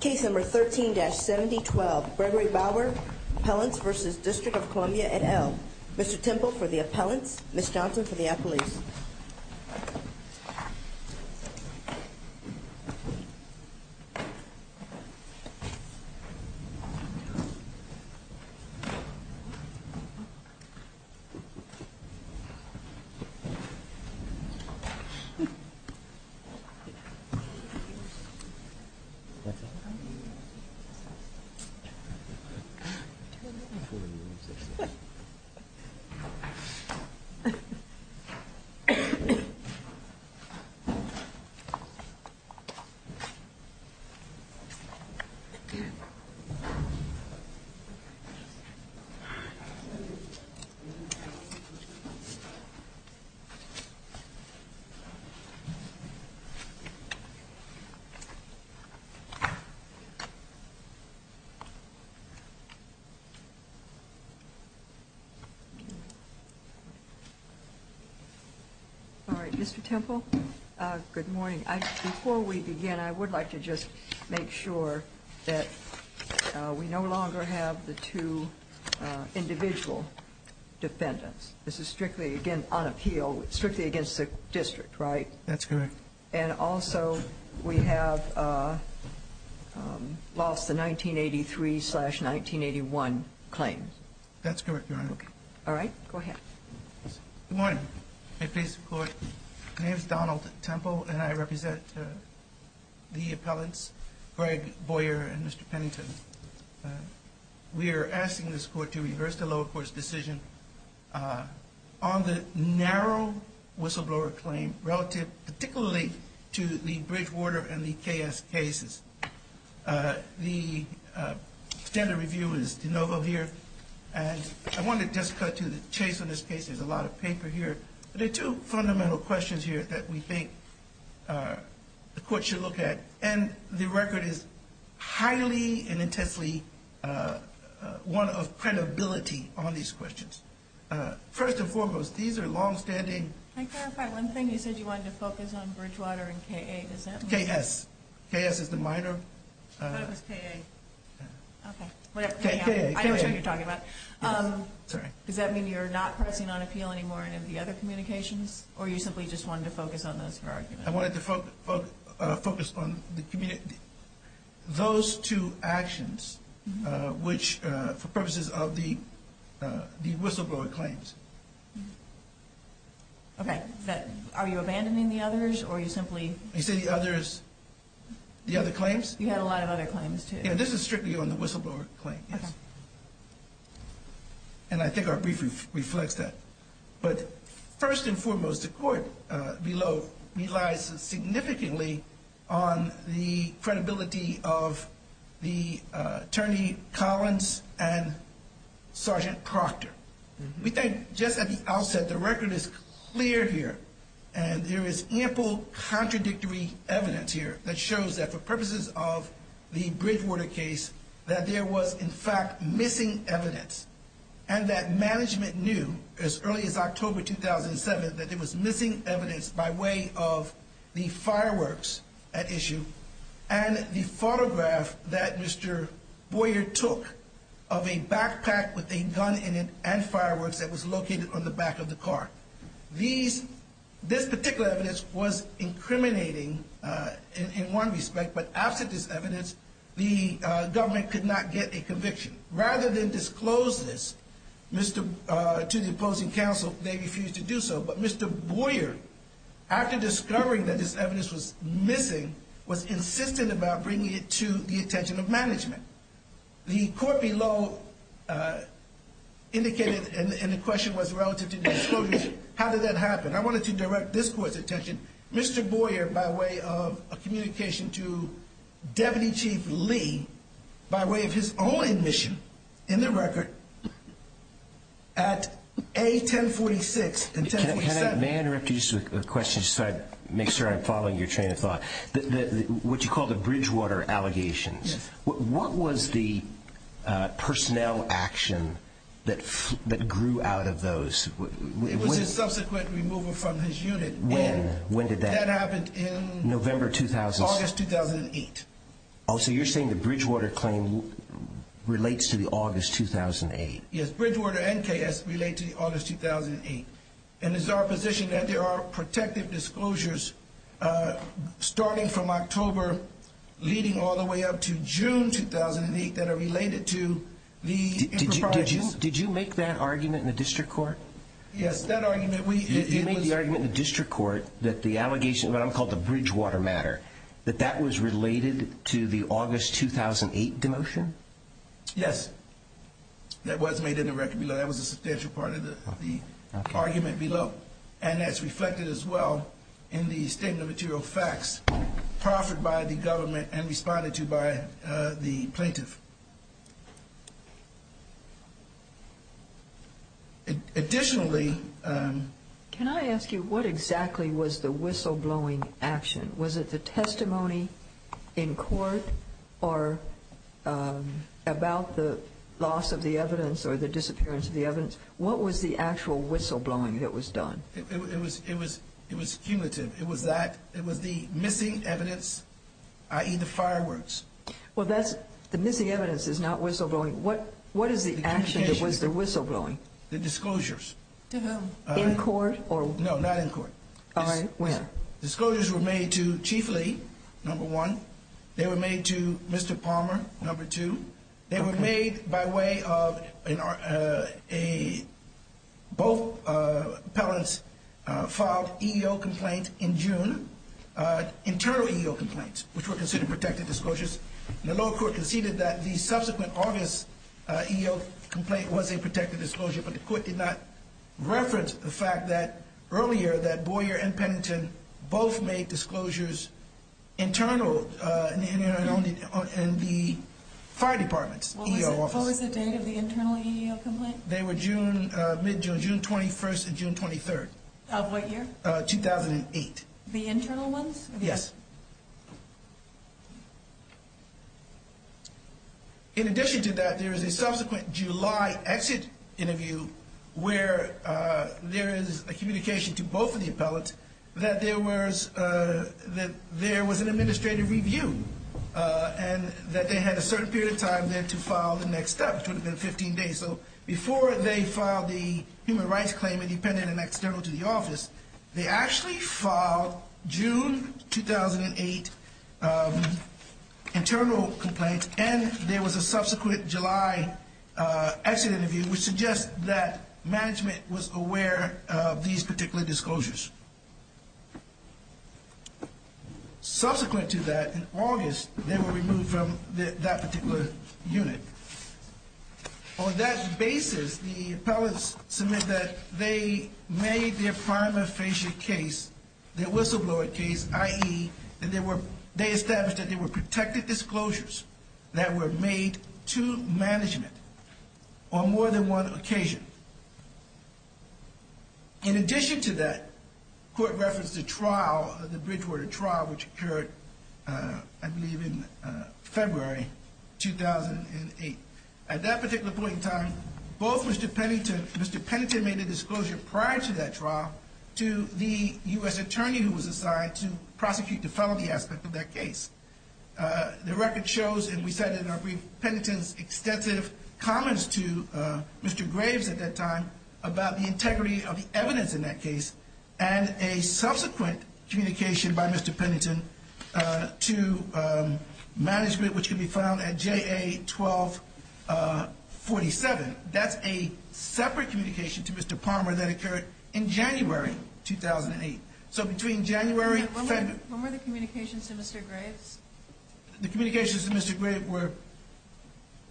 Case number 13-7012, Gregory Bower, Appellants v. District of Columbia et al. Mr. Temple for the Appellants, Ms. Johnson for the Appellees. Thank you. All right, Mr. Temple, good morning. Before we begin, I would like to just make sure that we no longer have the two individual defendants. This is strictly, again, on appeal, strictly against the district, right? That's correct. And also, we have lost the 1983-1981 claim. That's correct, Your Honor. All right. Go ahead. Good morning. My name is Donald Temple, and I represent the Appellants, Greg Bowyer and Mr. Pennington. We are asking this Court to reverse the lower court's decision on the narrow whistleblower claim relative, particularly to the Bridgewater and the KS cases. The standard review is de novo here, and I want to just cut to the chase on this case. There's a lot of paper here. There are two fundamental questions here that we think the Court should look at, and the record is highly and intensely one of credibility on these questions. First and foremost, these are longstanding. Can I clarify one thing? You said you wanted to focus on Bridgewater and KA. Is that right? KS. KS is the minor. I thought it was KA. Okay. KA. I know what you're talking about. Sorry. Does that mean you're not pressing on appeal anymore in any of the other communications, or you simply just wanted to focus on those for argument? I wanted to focus on those two actions, which, for purposes of the whistleblower claims. Okay. Are you abandoning the others, or are you simply? You said the others, the other claims? You had a lot of other claims, too. Yeah, this is strictly on the whistleblower claim, yes. Okay. And I think our brief reflects that. But first and foremost, the court below relies significantly on the credibility of the attorney Collins and Sergeant Proctor. We think just at the outset, the record is clear here, and there is ample contradictory evidence here that shows that for purposes of the Bridgewater case, that there was, in fact, missing evidence, and that management knew as early as October 2007 that there was missing evidence by way of the fireworks at issue and the photograph that Mr. Boyer took of a backpack with a gun in it and fireworks that was located on the back of the car. This particular evidence was incriminating in one respect, but absent this evidence, the government could not get a conviction. Rather than disclose this to the opposing counsel, they refused to do so, but Mr. Boyer, after discovering that this evidence was missing, was insistent about bringing it to the attention of management. The court below indicated, and the question was relative to disclosures, how did that happen? I wanted to direct this court's attention, Mr. Boyer, by way of a communication to Deputy Chief Lee, by way of his own admission in the record, at A1046 and 1047. May I interrupt you with a question just to make sure I'm following your train of thought? What you call the Bridgewater allegations, what was the personnel action that grew out of those? It was a subsequent removal from his unit. When? When did that happen? That happened in August 2008. Oh, so you're saying the Bridgewater claim relates to the August 2008? Yes, Bridgewater and KS relate to August 2008. And it's our position that there are protective disclosures starting from October leading all the way up to June 2008 that are related to the improper charges. Did you make that argument in the district court? Yes, that argument. You made the argument in the district court that the allegations of what I'm calling the Bridgewater matter, that that was related to the August 2008 demotion? Yes, that was made in the record below. That was a substantial part of the argument below. And that's reflected as well in the statement of material facts proffered by the government and responded to by the plaintiff. Additionally... Can I ask you what exactly was the whistleblowing action? Was it the testimony in court or about the loss of the evidence or the disappearance of the evidence? What was the actual whistleblowing that was done? It was cumulative. It was the missing evidence, i.e. the fireworks. Well, the missing evidence is not whistleblowing. What is the action that was the whistleblowing? The disclosures. To whom? In court? No, not in court. All right, when? Disclosures were made to Chief Lee, number one. They were made to Mr. Palmer, number two. They were made by way of both appellants filed EEO complaint in June, internal EEO complaints, which were considered protected disclosures. The lower court conceded that the subsequent August EEO complaint was a protected disclosure, but the court did not reference the fact that earlier that Boyer and Pennington both made disclosures internal in the fire department's EEO office. What was the date of the internal EEO complaint? They were mid-June, June 21st and June 23rd. Of what year? 2008. The internal ones? Yes. In addition to that, there is a subsequent July exit interview where there is a communication to both of the appellants that there was an administrative review and that they had a certain period of time then to file the next step. It would have been 15 days. Before they filed the human rights claim independent and external to the office, they actually filed June 2008 internal complaints and there was a subsequent July exit interview, which suggests that management was aware of these particular disclosures. Subsequent to that, in August, they were removed from that particular unit. On that basis, the appellants submit that they made their prima facie case, their whistleblower case, i.e., they established that they were protected disclosures that were made to management on more than one occasion. In addition to that, court referenced the trial, the Bridgewater trial, which occurred, I believe, in February 2008. At that particular point in time, both Mr. Pennington, Mr. Pennington made a disclosure prior to that trial to the U.S. attorney who was assigned to prosecute the felony aspect of that case. The record shows, and we cited in our brief, Pennington's extensive comments to Mr. Graves at that time about the integrity of the evidence in that case and a subsequent communication by Mr. Pennington to management, which can be found at JA 1247. That's a separate communication to Mr. Palmer that occurred in January 2008. When were the communications to Mr. Graves? The communications to Mr. Graves were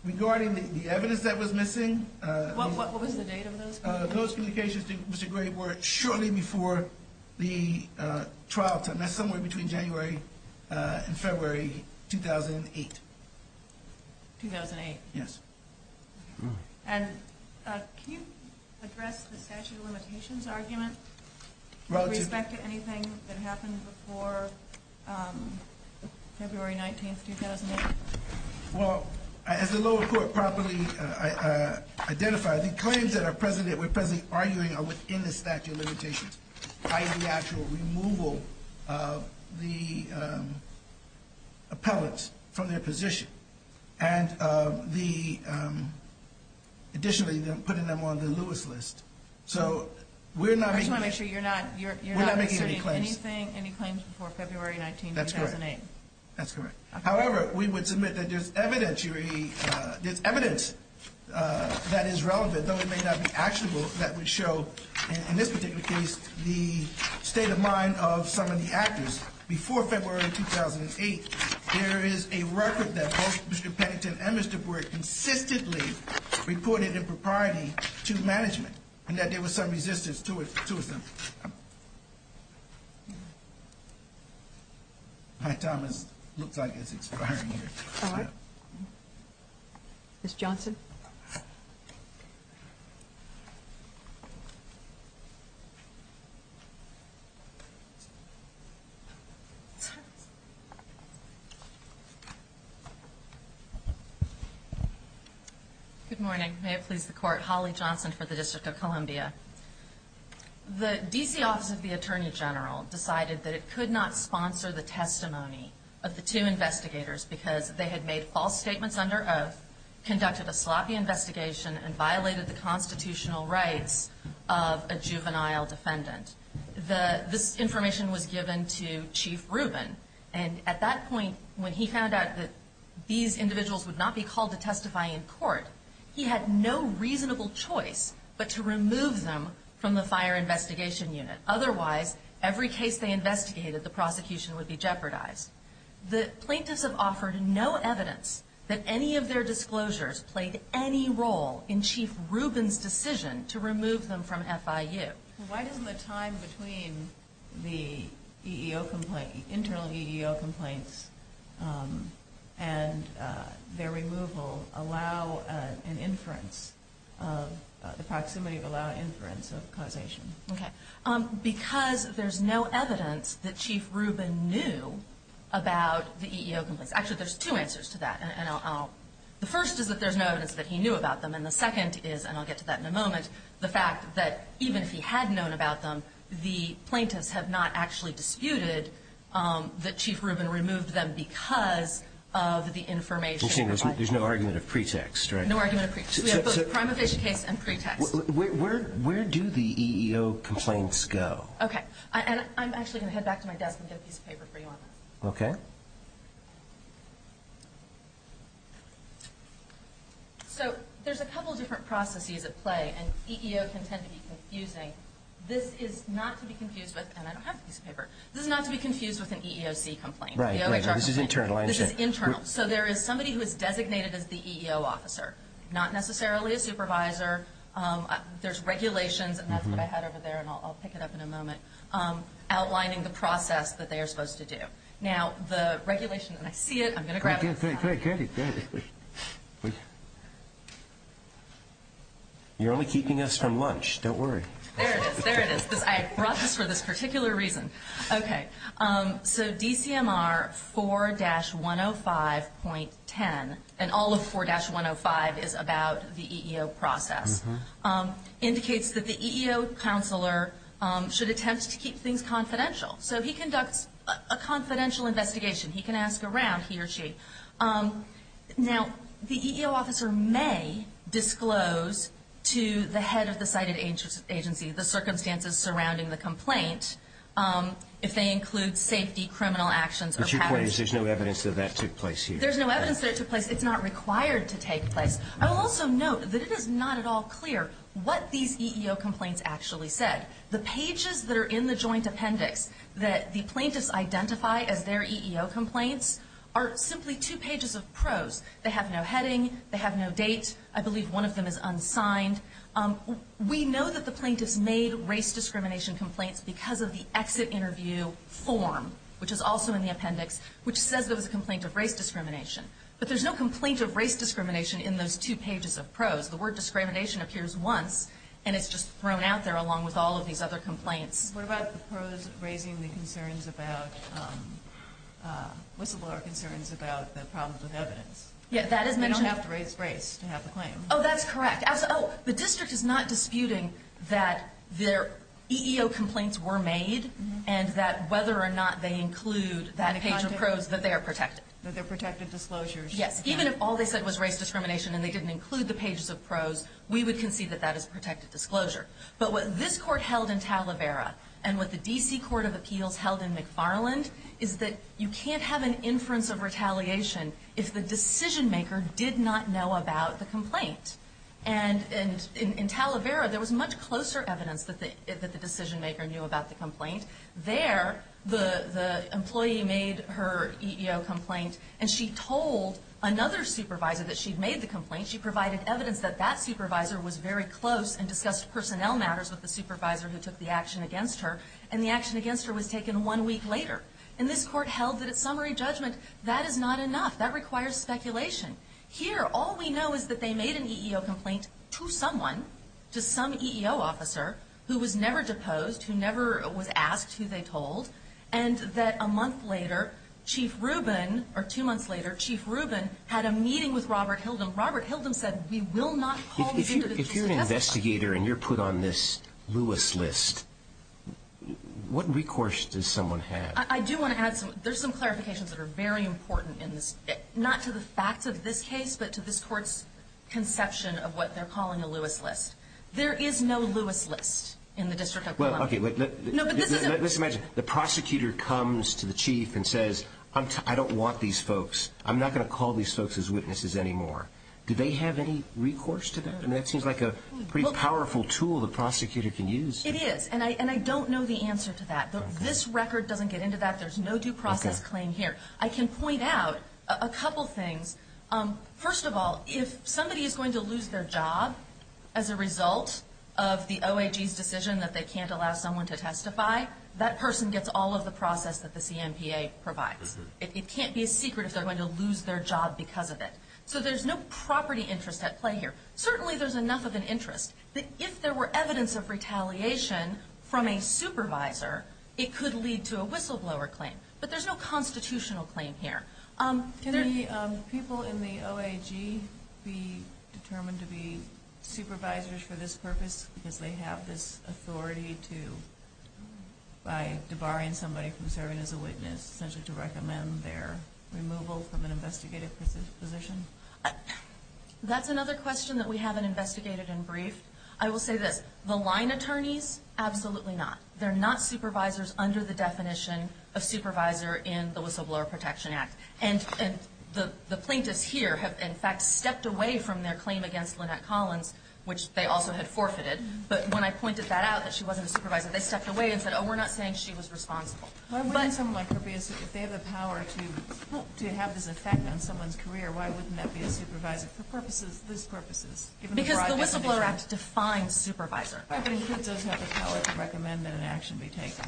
regarding the evidence that was missing. What was the date of those communications? Those communications to Mr. Graves were shortly before the trial time. That's somewhere between January and February 2008. 2008? Yes. And can you address the statute of limitations argument with respect to anything that happened before February 19, 2008? Well, as the lower court properly identified, the claims that we're presently arguing are within the statute of limitations, i.e. the actual removal of the appellate from their position, and additionally putting them on the Lewis list. I just want to make sure you're not asserting any claims before February 19, 2008. That's correct. However, we would submit that there's evidence that is relevant, though it may not be actionable, that would show, in this particular case, the state of mind of some of the actors. Before February 2008, there is a record that both Mr. Pennington and Mr. Brewer consistently reported impropriety to management, and that there was some resistance to it. My time looks like it's expiring here. All right. Ms. Johnson? Good morning. May it please the Court. Holly Johnson for the District of Columbia. The D.C. Office of the Attorney General decided that it could not sponsor the testimony of the two investigators because they had made false statements under oath, conducted a sloppy investigation, and violated the constitutional rights of a juvenile defendant. This information was given to Chief Rubin, and at that point, when he found out that these individuals would not be called to testify in court, he had no reasonable choice but to remove them from the Fire Investigation Unit. Otherwise, every case they investigated, the prosecution would be jeopardized. The plaintiffs have offered no evidence that any of their disclosures played any role in Chief Rubin's decision to remove them from FIU. Why doesn't the time between the EEO complaint, internal EEO complaints, and their removal allow an inference of, the proximity of allow an inference of causation? Okay. Because there's no evidence that Chief Rubin knew about the EEO complaints. Actually, there's two answers to that, and I'll, the first is that there's no evidence that he knew about them, and the second is, and I'll get to that in a moment, the fact that even if he had known about them, the plaintiffs have not actually disputed that Chief Rubin removed them because of the information. You're saying there's no argument of pretext, right? No argument of pretext. We have both prima facie case and pretext. Where do the EEO complaints go? Okay. And I'm actually going to head back to my desk and get a piece of paper for you on that. Okay. So there's a couple different processes at play, and EEO can tend to be confusing. This is not to be confused with, and I don't have a piece of paper, this is not to be confused with an EEOC complaint. Right, right. This is internal, I understand. This is internal. So there is somebody who is designated as the EEO officer, not necessarily a supervisor. There's regulations, and that's what I had over there, and I'll pick it up in a moment, outlining the process that they are supposed to do. Now, the regulation, and I see it, I'm going to grab it. Great, great, great. You're only keeping us from lunch, don't worry. There it is, there it is. I brought this for this particular reason. Okay. So DCMR 4-105.10, and all of 4-105 is about the EEO process, indicates that the EEO counselor should attempt to keep things confidential. So he conducts a confidential investigation. He can ask around, he or she. Now, the EEO officer may disclose to the head of the cited agency the circumstances surrounding the complaint, if they include safety, criminal actions, or patterns. But you're pointing to there's no evidence that that took place here. There's no evidence that it took place. It's not required to take place. I will also note that it is not at all clear what these EEO complaints actually said. The pages that are in the joint appendix that the plaintiffs identify as their EEO complaints are simply two pages of prose. They have no heading. They have no date. I believe one of them is unsigned. We know that the plaintiffs made race discrimination complaints because of the exit interview form, which is also in the appendix, which says there was a complaint of race discrimination. But there's no complaint of race discrimination in those two pages of prose. The word discrimination appears once, and it's just thrown out there along with all of these other complaints. What about the prose raising the concerns about, whistleblower concerns about the problems with evidence? Yeah, that is mentioned. You don't have to raise race to have the claim. Oh, that's correct. Oh, the district is not disputing that their EEO complaints were made, and that whether or not they include that page of prose, that they are protected. That they're protected disclosures. Yes, even if all they said was race discrimination and they didn't include the pages of prose, we would concede that that is protected disclosure. But what this court held in Talavera and what the D.C. Court of Appeals held in McFarland is that you can't have an inference of retaliation if the decision-maker did not know about the complaint. And in Talavera, there was much closer evidence that the decision-maker knew about the complaint. There, the employee made her EEO complaint, and she told another supervisor that she'd made the complaint. She provided evidence that that supervisor was very close and discussed personnel matters with the supervisor who took the action against her. And the action against her was taken one week later. And this court held that at summary judgment, that is not enough. That requires speculation. Here, all we know is that they made an EEO complaint to someone, to some EEO officer, who was never deposed, who never was asked who they told, and that a month later, Chief Rubin, or two months later, Chief Rubin, had a meeting with Robert Hildum. Robert Hildum said, we will not call you into the case of defamation. If you're an investigator and you're put on this Lewis list, what recourse does someone have? I do want to add something. There's some clarifications that are very important in this, not to the facts of this case, but to this court's conception of what they're calling a Lewis list. There is no Lewis list in the District of Columbia. Let's imagine the prosecutor comes to the chief and says, I don't want these folks. I'm not going to call these folks as witnesses anymore. Do they have any recourse to that? I mean, that seems like a pretty powerful tool the prosecutor can use. It is, and I don't know the answer to that. This record doesn't get into that. There's no due process claim here. I can point out a couple things. First of all, if somebody is going to lose their job as a result of the OAG's decision that they can't allow someone to testify, that person gets all of the process that the CMPA provides. It can't be a secret if they're going to lose their job because of it. So there's no property interest at play here. Certainly there's enough of an interest that if there were evidence of retaliation from a supervisor, it could lead to a whistleblower claim. But there's no constitutional claim here. Can the people in the OAG be determined to be supervisors for this purpose because they have this authority to, by debarring somebody from serving as a witness, essentially to recommend their removal from an investigative position? That's another question that we haven't investigated and briefed. I will say this. The line attorneys, absolutely not. They're not supervisors under the definition of supervisor in the Whistleblower Protection Act. And the plaintiffs here have, in fact, stepped away from their claim against Lynette Collins, which they also had forfeited. But when I pointed that out, that she wasn't a supervisor, they stepped away and said, oh, we're not saying she was responsible. Why wouldn't someone like her be a supervisor? If they have the power to have this effect on someone's career, why wouldn't that be a supervisor for purposes, these purposes? Because the Whistleblower Act defines supervisor. I think it does have the power to recommend that an action be taken.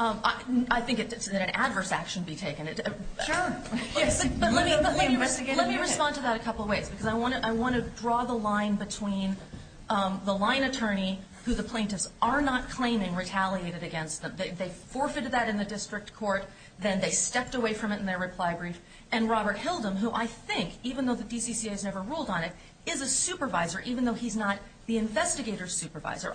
I think that an adverse action be taken. Sure. Yes, but let me respond to that a couple of ways. Because I want to draw the line between the line attorney, who the plaintiffs are not claiming retaliated against. They forfeited that in the district court. Then they stepped away from it in their reply brief. And Robert Hildum, who I think, even though the DCCA has never ruled on it, is a supervisor, even though he's not the investigator's supervisor.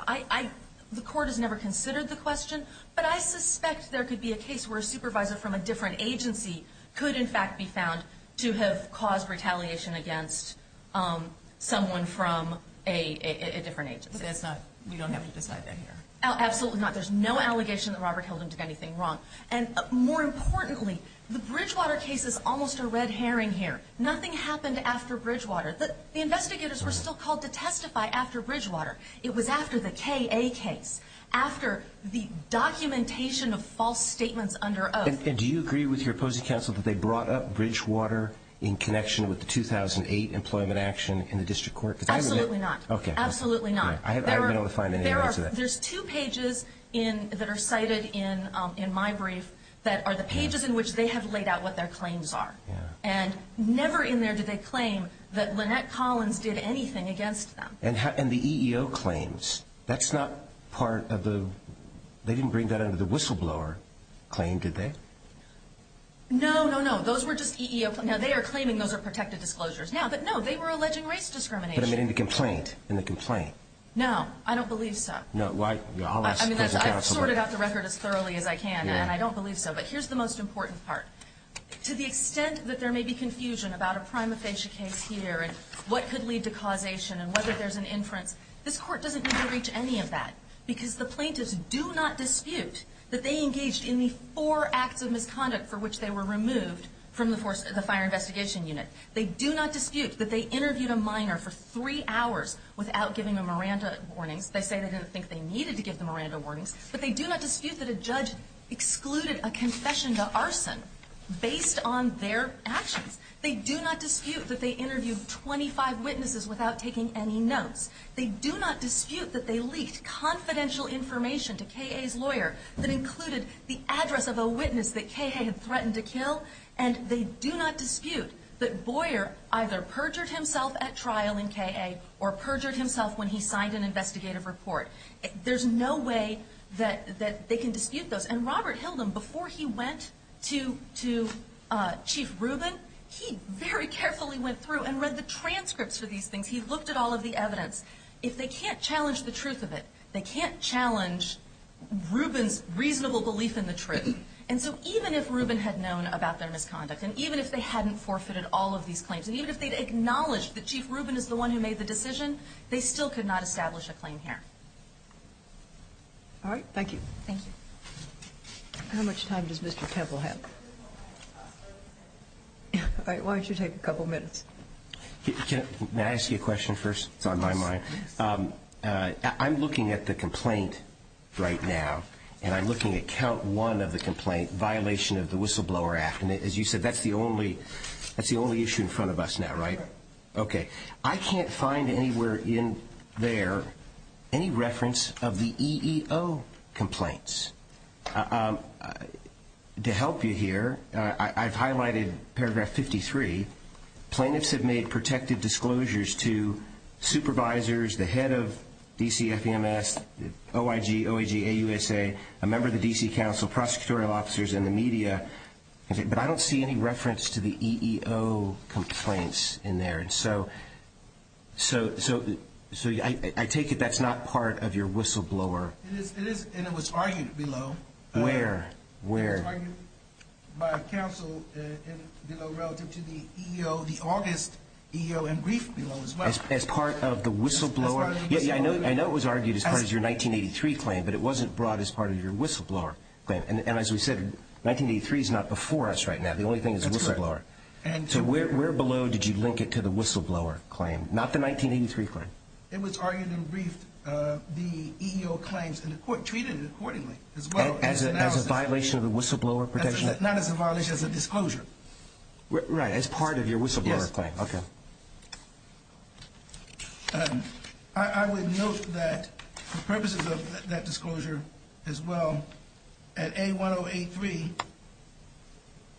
The court has never considered the question, but I suspect there could be a case where a supervisor from a different agency could in fact be found to have caused retaliation against someone from a different agency. But that's not, we don't have to decide that here. Absolutely not. There's no allegation that Robert Hildum did anything wrong. And more importantly, the Bridgewater case is almost a red herring here. Nothing happened after Bridgewater. The investigators were still called to testify after Bridgewater. It was after the K.A. case, after the documentation of false statements under oath. And do you agree with your opposing counsel that they brought up Bridgewater in connection with the 2008 employment action in the district court? Absolutely not. Okay. Absolutely not. I haven't been able to find any evidence of that. There's two pages that are cited in my brief that are the pages in which they have laid out what their claims are. And never in there did they claim that Lynette Collins did anything against them. And the EEO claims. That's not part of the, they didn't bring that under the whistleblower claim, did they? No, no, no. Those were just EEO. Now, they are claiming those are protected disclosures now. But, no, they were alleging race discrimination. But in the complaint. In the complaint. No. I don't believe so. No. I'll ask the opposing counsel. I've sorted out the record as thoroughly as I can, and I don't believe so. But here's the most important part. To the extent that there may be confusion about a prima facie case here, and what could lead to causation, and whether there's an inference, this Court doesn't need to reach any of that. Because the plaintiffs do not dispute that they engaged in the four acts of misconduct for which they were removed from the fire investigation unit. They do not dispute that they interviewed a minor for three hours without giving them Miranda warnings. They say they didn't think they needed to give them Miranda warnings. But they do not dispute that a judge excluded a confession to arson based on their actions. They do not dispute that they interviewed 25 witnesses without taking any notes. They do not dispute that they leaked confidential information to K.A.'s lawyer that included the address of a witness that K.A. had threatened to kill. And they do not dispute that Boyer either perjured himself at trial in K.A. or perjured himself when he signed an investigative report. There's no way that they can dispute those. And Robert Hilden, before he went to Chief Rubin, he very carefully went through and read the transcripts for these things. He looked at all of the evidence. If they can't challenge the truth of it, they can't challenge Rubin's reasonable belief in the truth. And so even if Rubin had known about their misconduct, and even if they hadn't forfeited all of these claims, and even if they'd acknowledged that Chief Rubin is the one who made the decision, they still could not establish a claim here. All right. Thank you. Thank you. How much time does Mr. Temple have? All right. Why don't you take a couple minutes? Can I ask you a question first? It's on my mind. I'm looking at the complaint right now, and I'm looking at count one of the complaint, violation of the Whistleblower Act. And as you said, that's the only issue in front of us now, right? Right. Okay. I can't find anywhere in there any reference of the EEO complaints. To help you here, I've highlighted paragraph 53. Plaintiffs have made protective disclosures to supervisors, the head of DCFEMS, OIG, OAG, AUSA, a member of the D.C. Council, prosecutorial officers, and the media. But I don't see any reference to the EEO complaints in there. And so I take it that's not part of your whistleblower. It is, and it was argued below. Where? It was argued by a council below relative to the EEO, the August EEO and brief below as well. As part of the whistleblower? Yeah, I know it was argued as part of your 1983 claim, but it wasn't brought as part of your whistleblower claim. And as we said, 1983 is not before us right now. The only thing is the whistleblower. So where below did you link it to the whistleblower claim, not the 1983 claim? It was argued and briefed, the EEO claims, and the court treated it accordingly as well. As a violation of the whistleblower protection? Not as a violation, as a disclosure. Right, as part of your whistleblower claim. Yes. Okay. I would note that for purposes of that disclosure as well, at A1083,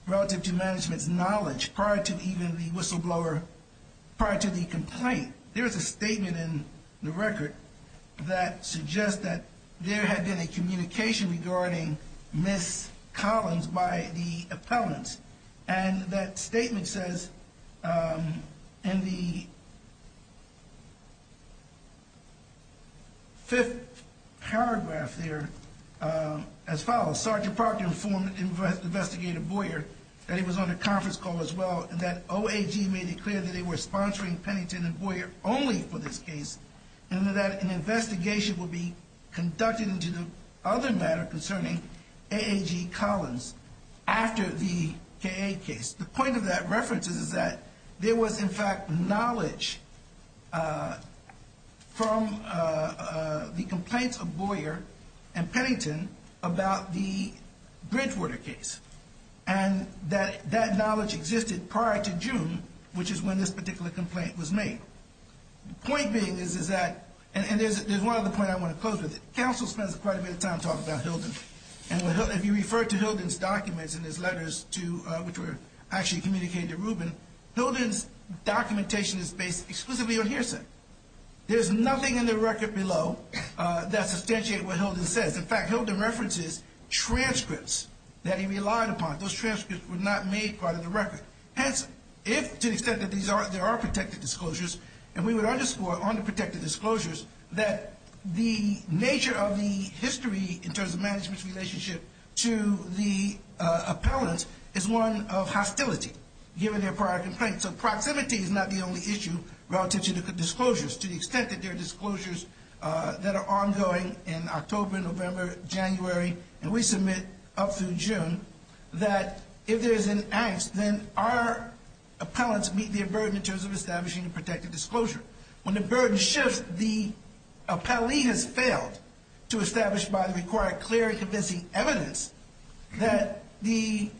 relative to management's knowledge prior to even the whistleblower, prior to the complaint, there is a statement in the record that suggests that there had been a communication regarding missed columns by the appellants. And that statement says in the fifth paragraph there as follows, Sergeant Parker informed Investigator Boyer that he was on a conference call as well, and that OAG made it clear that they were sponsoring Pennington and Boyer only for this case, and that an investigation would be conducted into the other matter concerning AAG Collins after the KA case. The point of that reference is that there was, in fact, knowledge from the complaints of Boyer and Pennington about the Bridgewater case. And that knowledge existed prior to June, which is when this particular complaint was made. The point being is that, and there's one other point I want to close with. Counsel spends quite a bit of time talking about Hilden. And if you refer to Hilden's documents in his letters to, which were actually communicated to Rubin, Hilden's documentation is based exclusively on hearsay. There's nothing in the record below that substantiates what Hilden says. In fact, Hilden references transcripts that he relied upon. Those transcripts were not made part of the record. Hence, if, to the extent that there are protected disclosures, and we would underscore on the protected disclosures, that the nature of the history in terms of management's relationship to the appellant is one of hostility, given their prior complaints. So proximity is not the only issue relative to the disclosures, to the extent that there are disclosures that are ongoing in October, November, January, and we submit up through June, that if there is an angst, then our appellants meet their burden in terms of establishing a protected disclosure. When the burden shifts, the appellee has failed to establish by the required clear and convincing evidence that the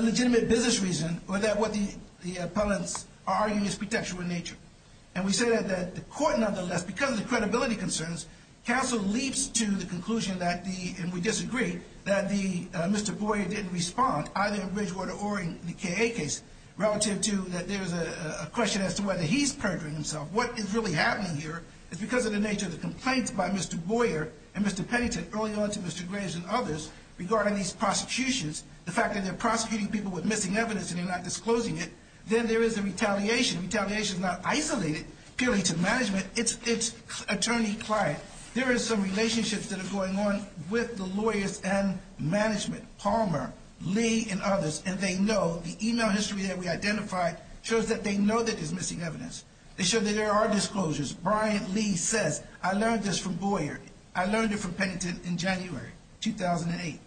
legitimate business reason, or that what the appellants are arguing is pretextual in nature. And we say that the court, nonetheless, because of the credibility concerns, counsel leaps to the conclusion that the, and we disagree, that Mr. Boyer didn't respond, either in Bridgewater or in the K.A. case, relative to that there's a question as to whether he's perjuring himself. What is really happening here is because of the nature of the complaints by Mr. Boyer and Mr. Pennington early on to Mr. Graves and others, regarding these prosecutions, the fact that they're prosecuting people with missing evidence and they're not disclosing it, then there is a retaliation. Retaliation is not isolated purely to management. It's attorney-client. There is some relationships that are going on with the lawyers and management, Palmer, Lee, and others, and they know, the email history that we identified shows that they know that there's missing evidence. They show that there are disclosures. Brian Lee says, I learned this from Boyer. I learned it from Pennington in January 2008.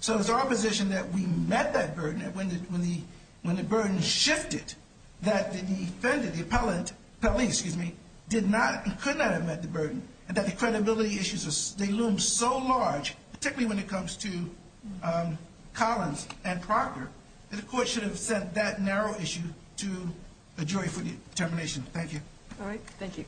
So it's our position that we met that burden, and when the burden shifted, that the defendant, the appellant, Pelley, excuse me, did not and could not have met the burden, and that the credibility issues, they loom so large, particularly when it comes to Collins and Proctor, that the court should have sent that narrow issue to a jury for determination. Thank you. All right. Thank you.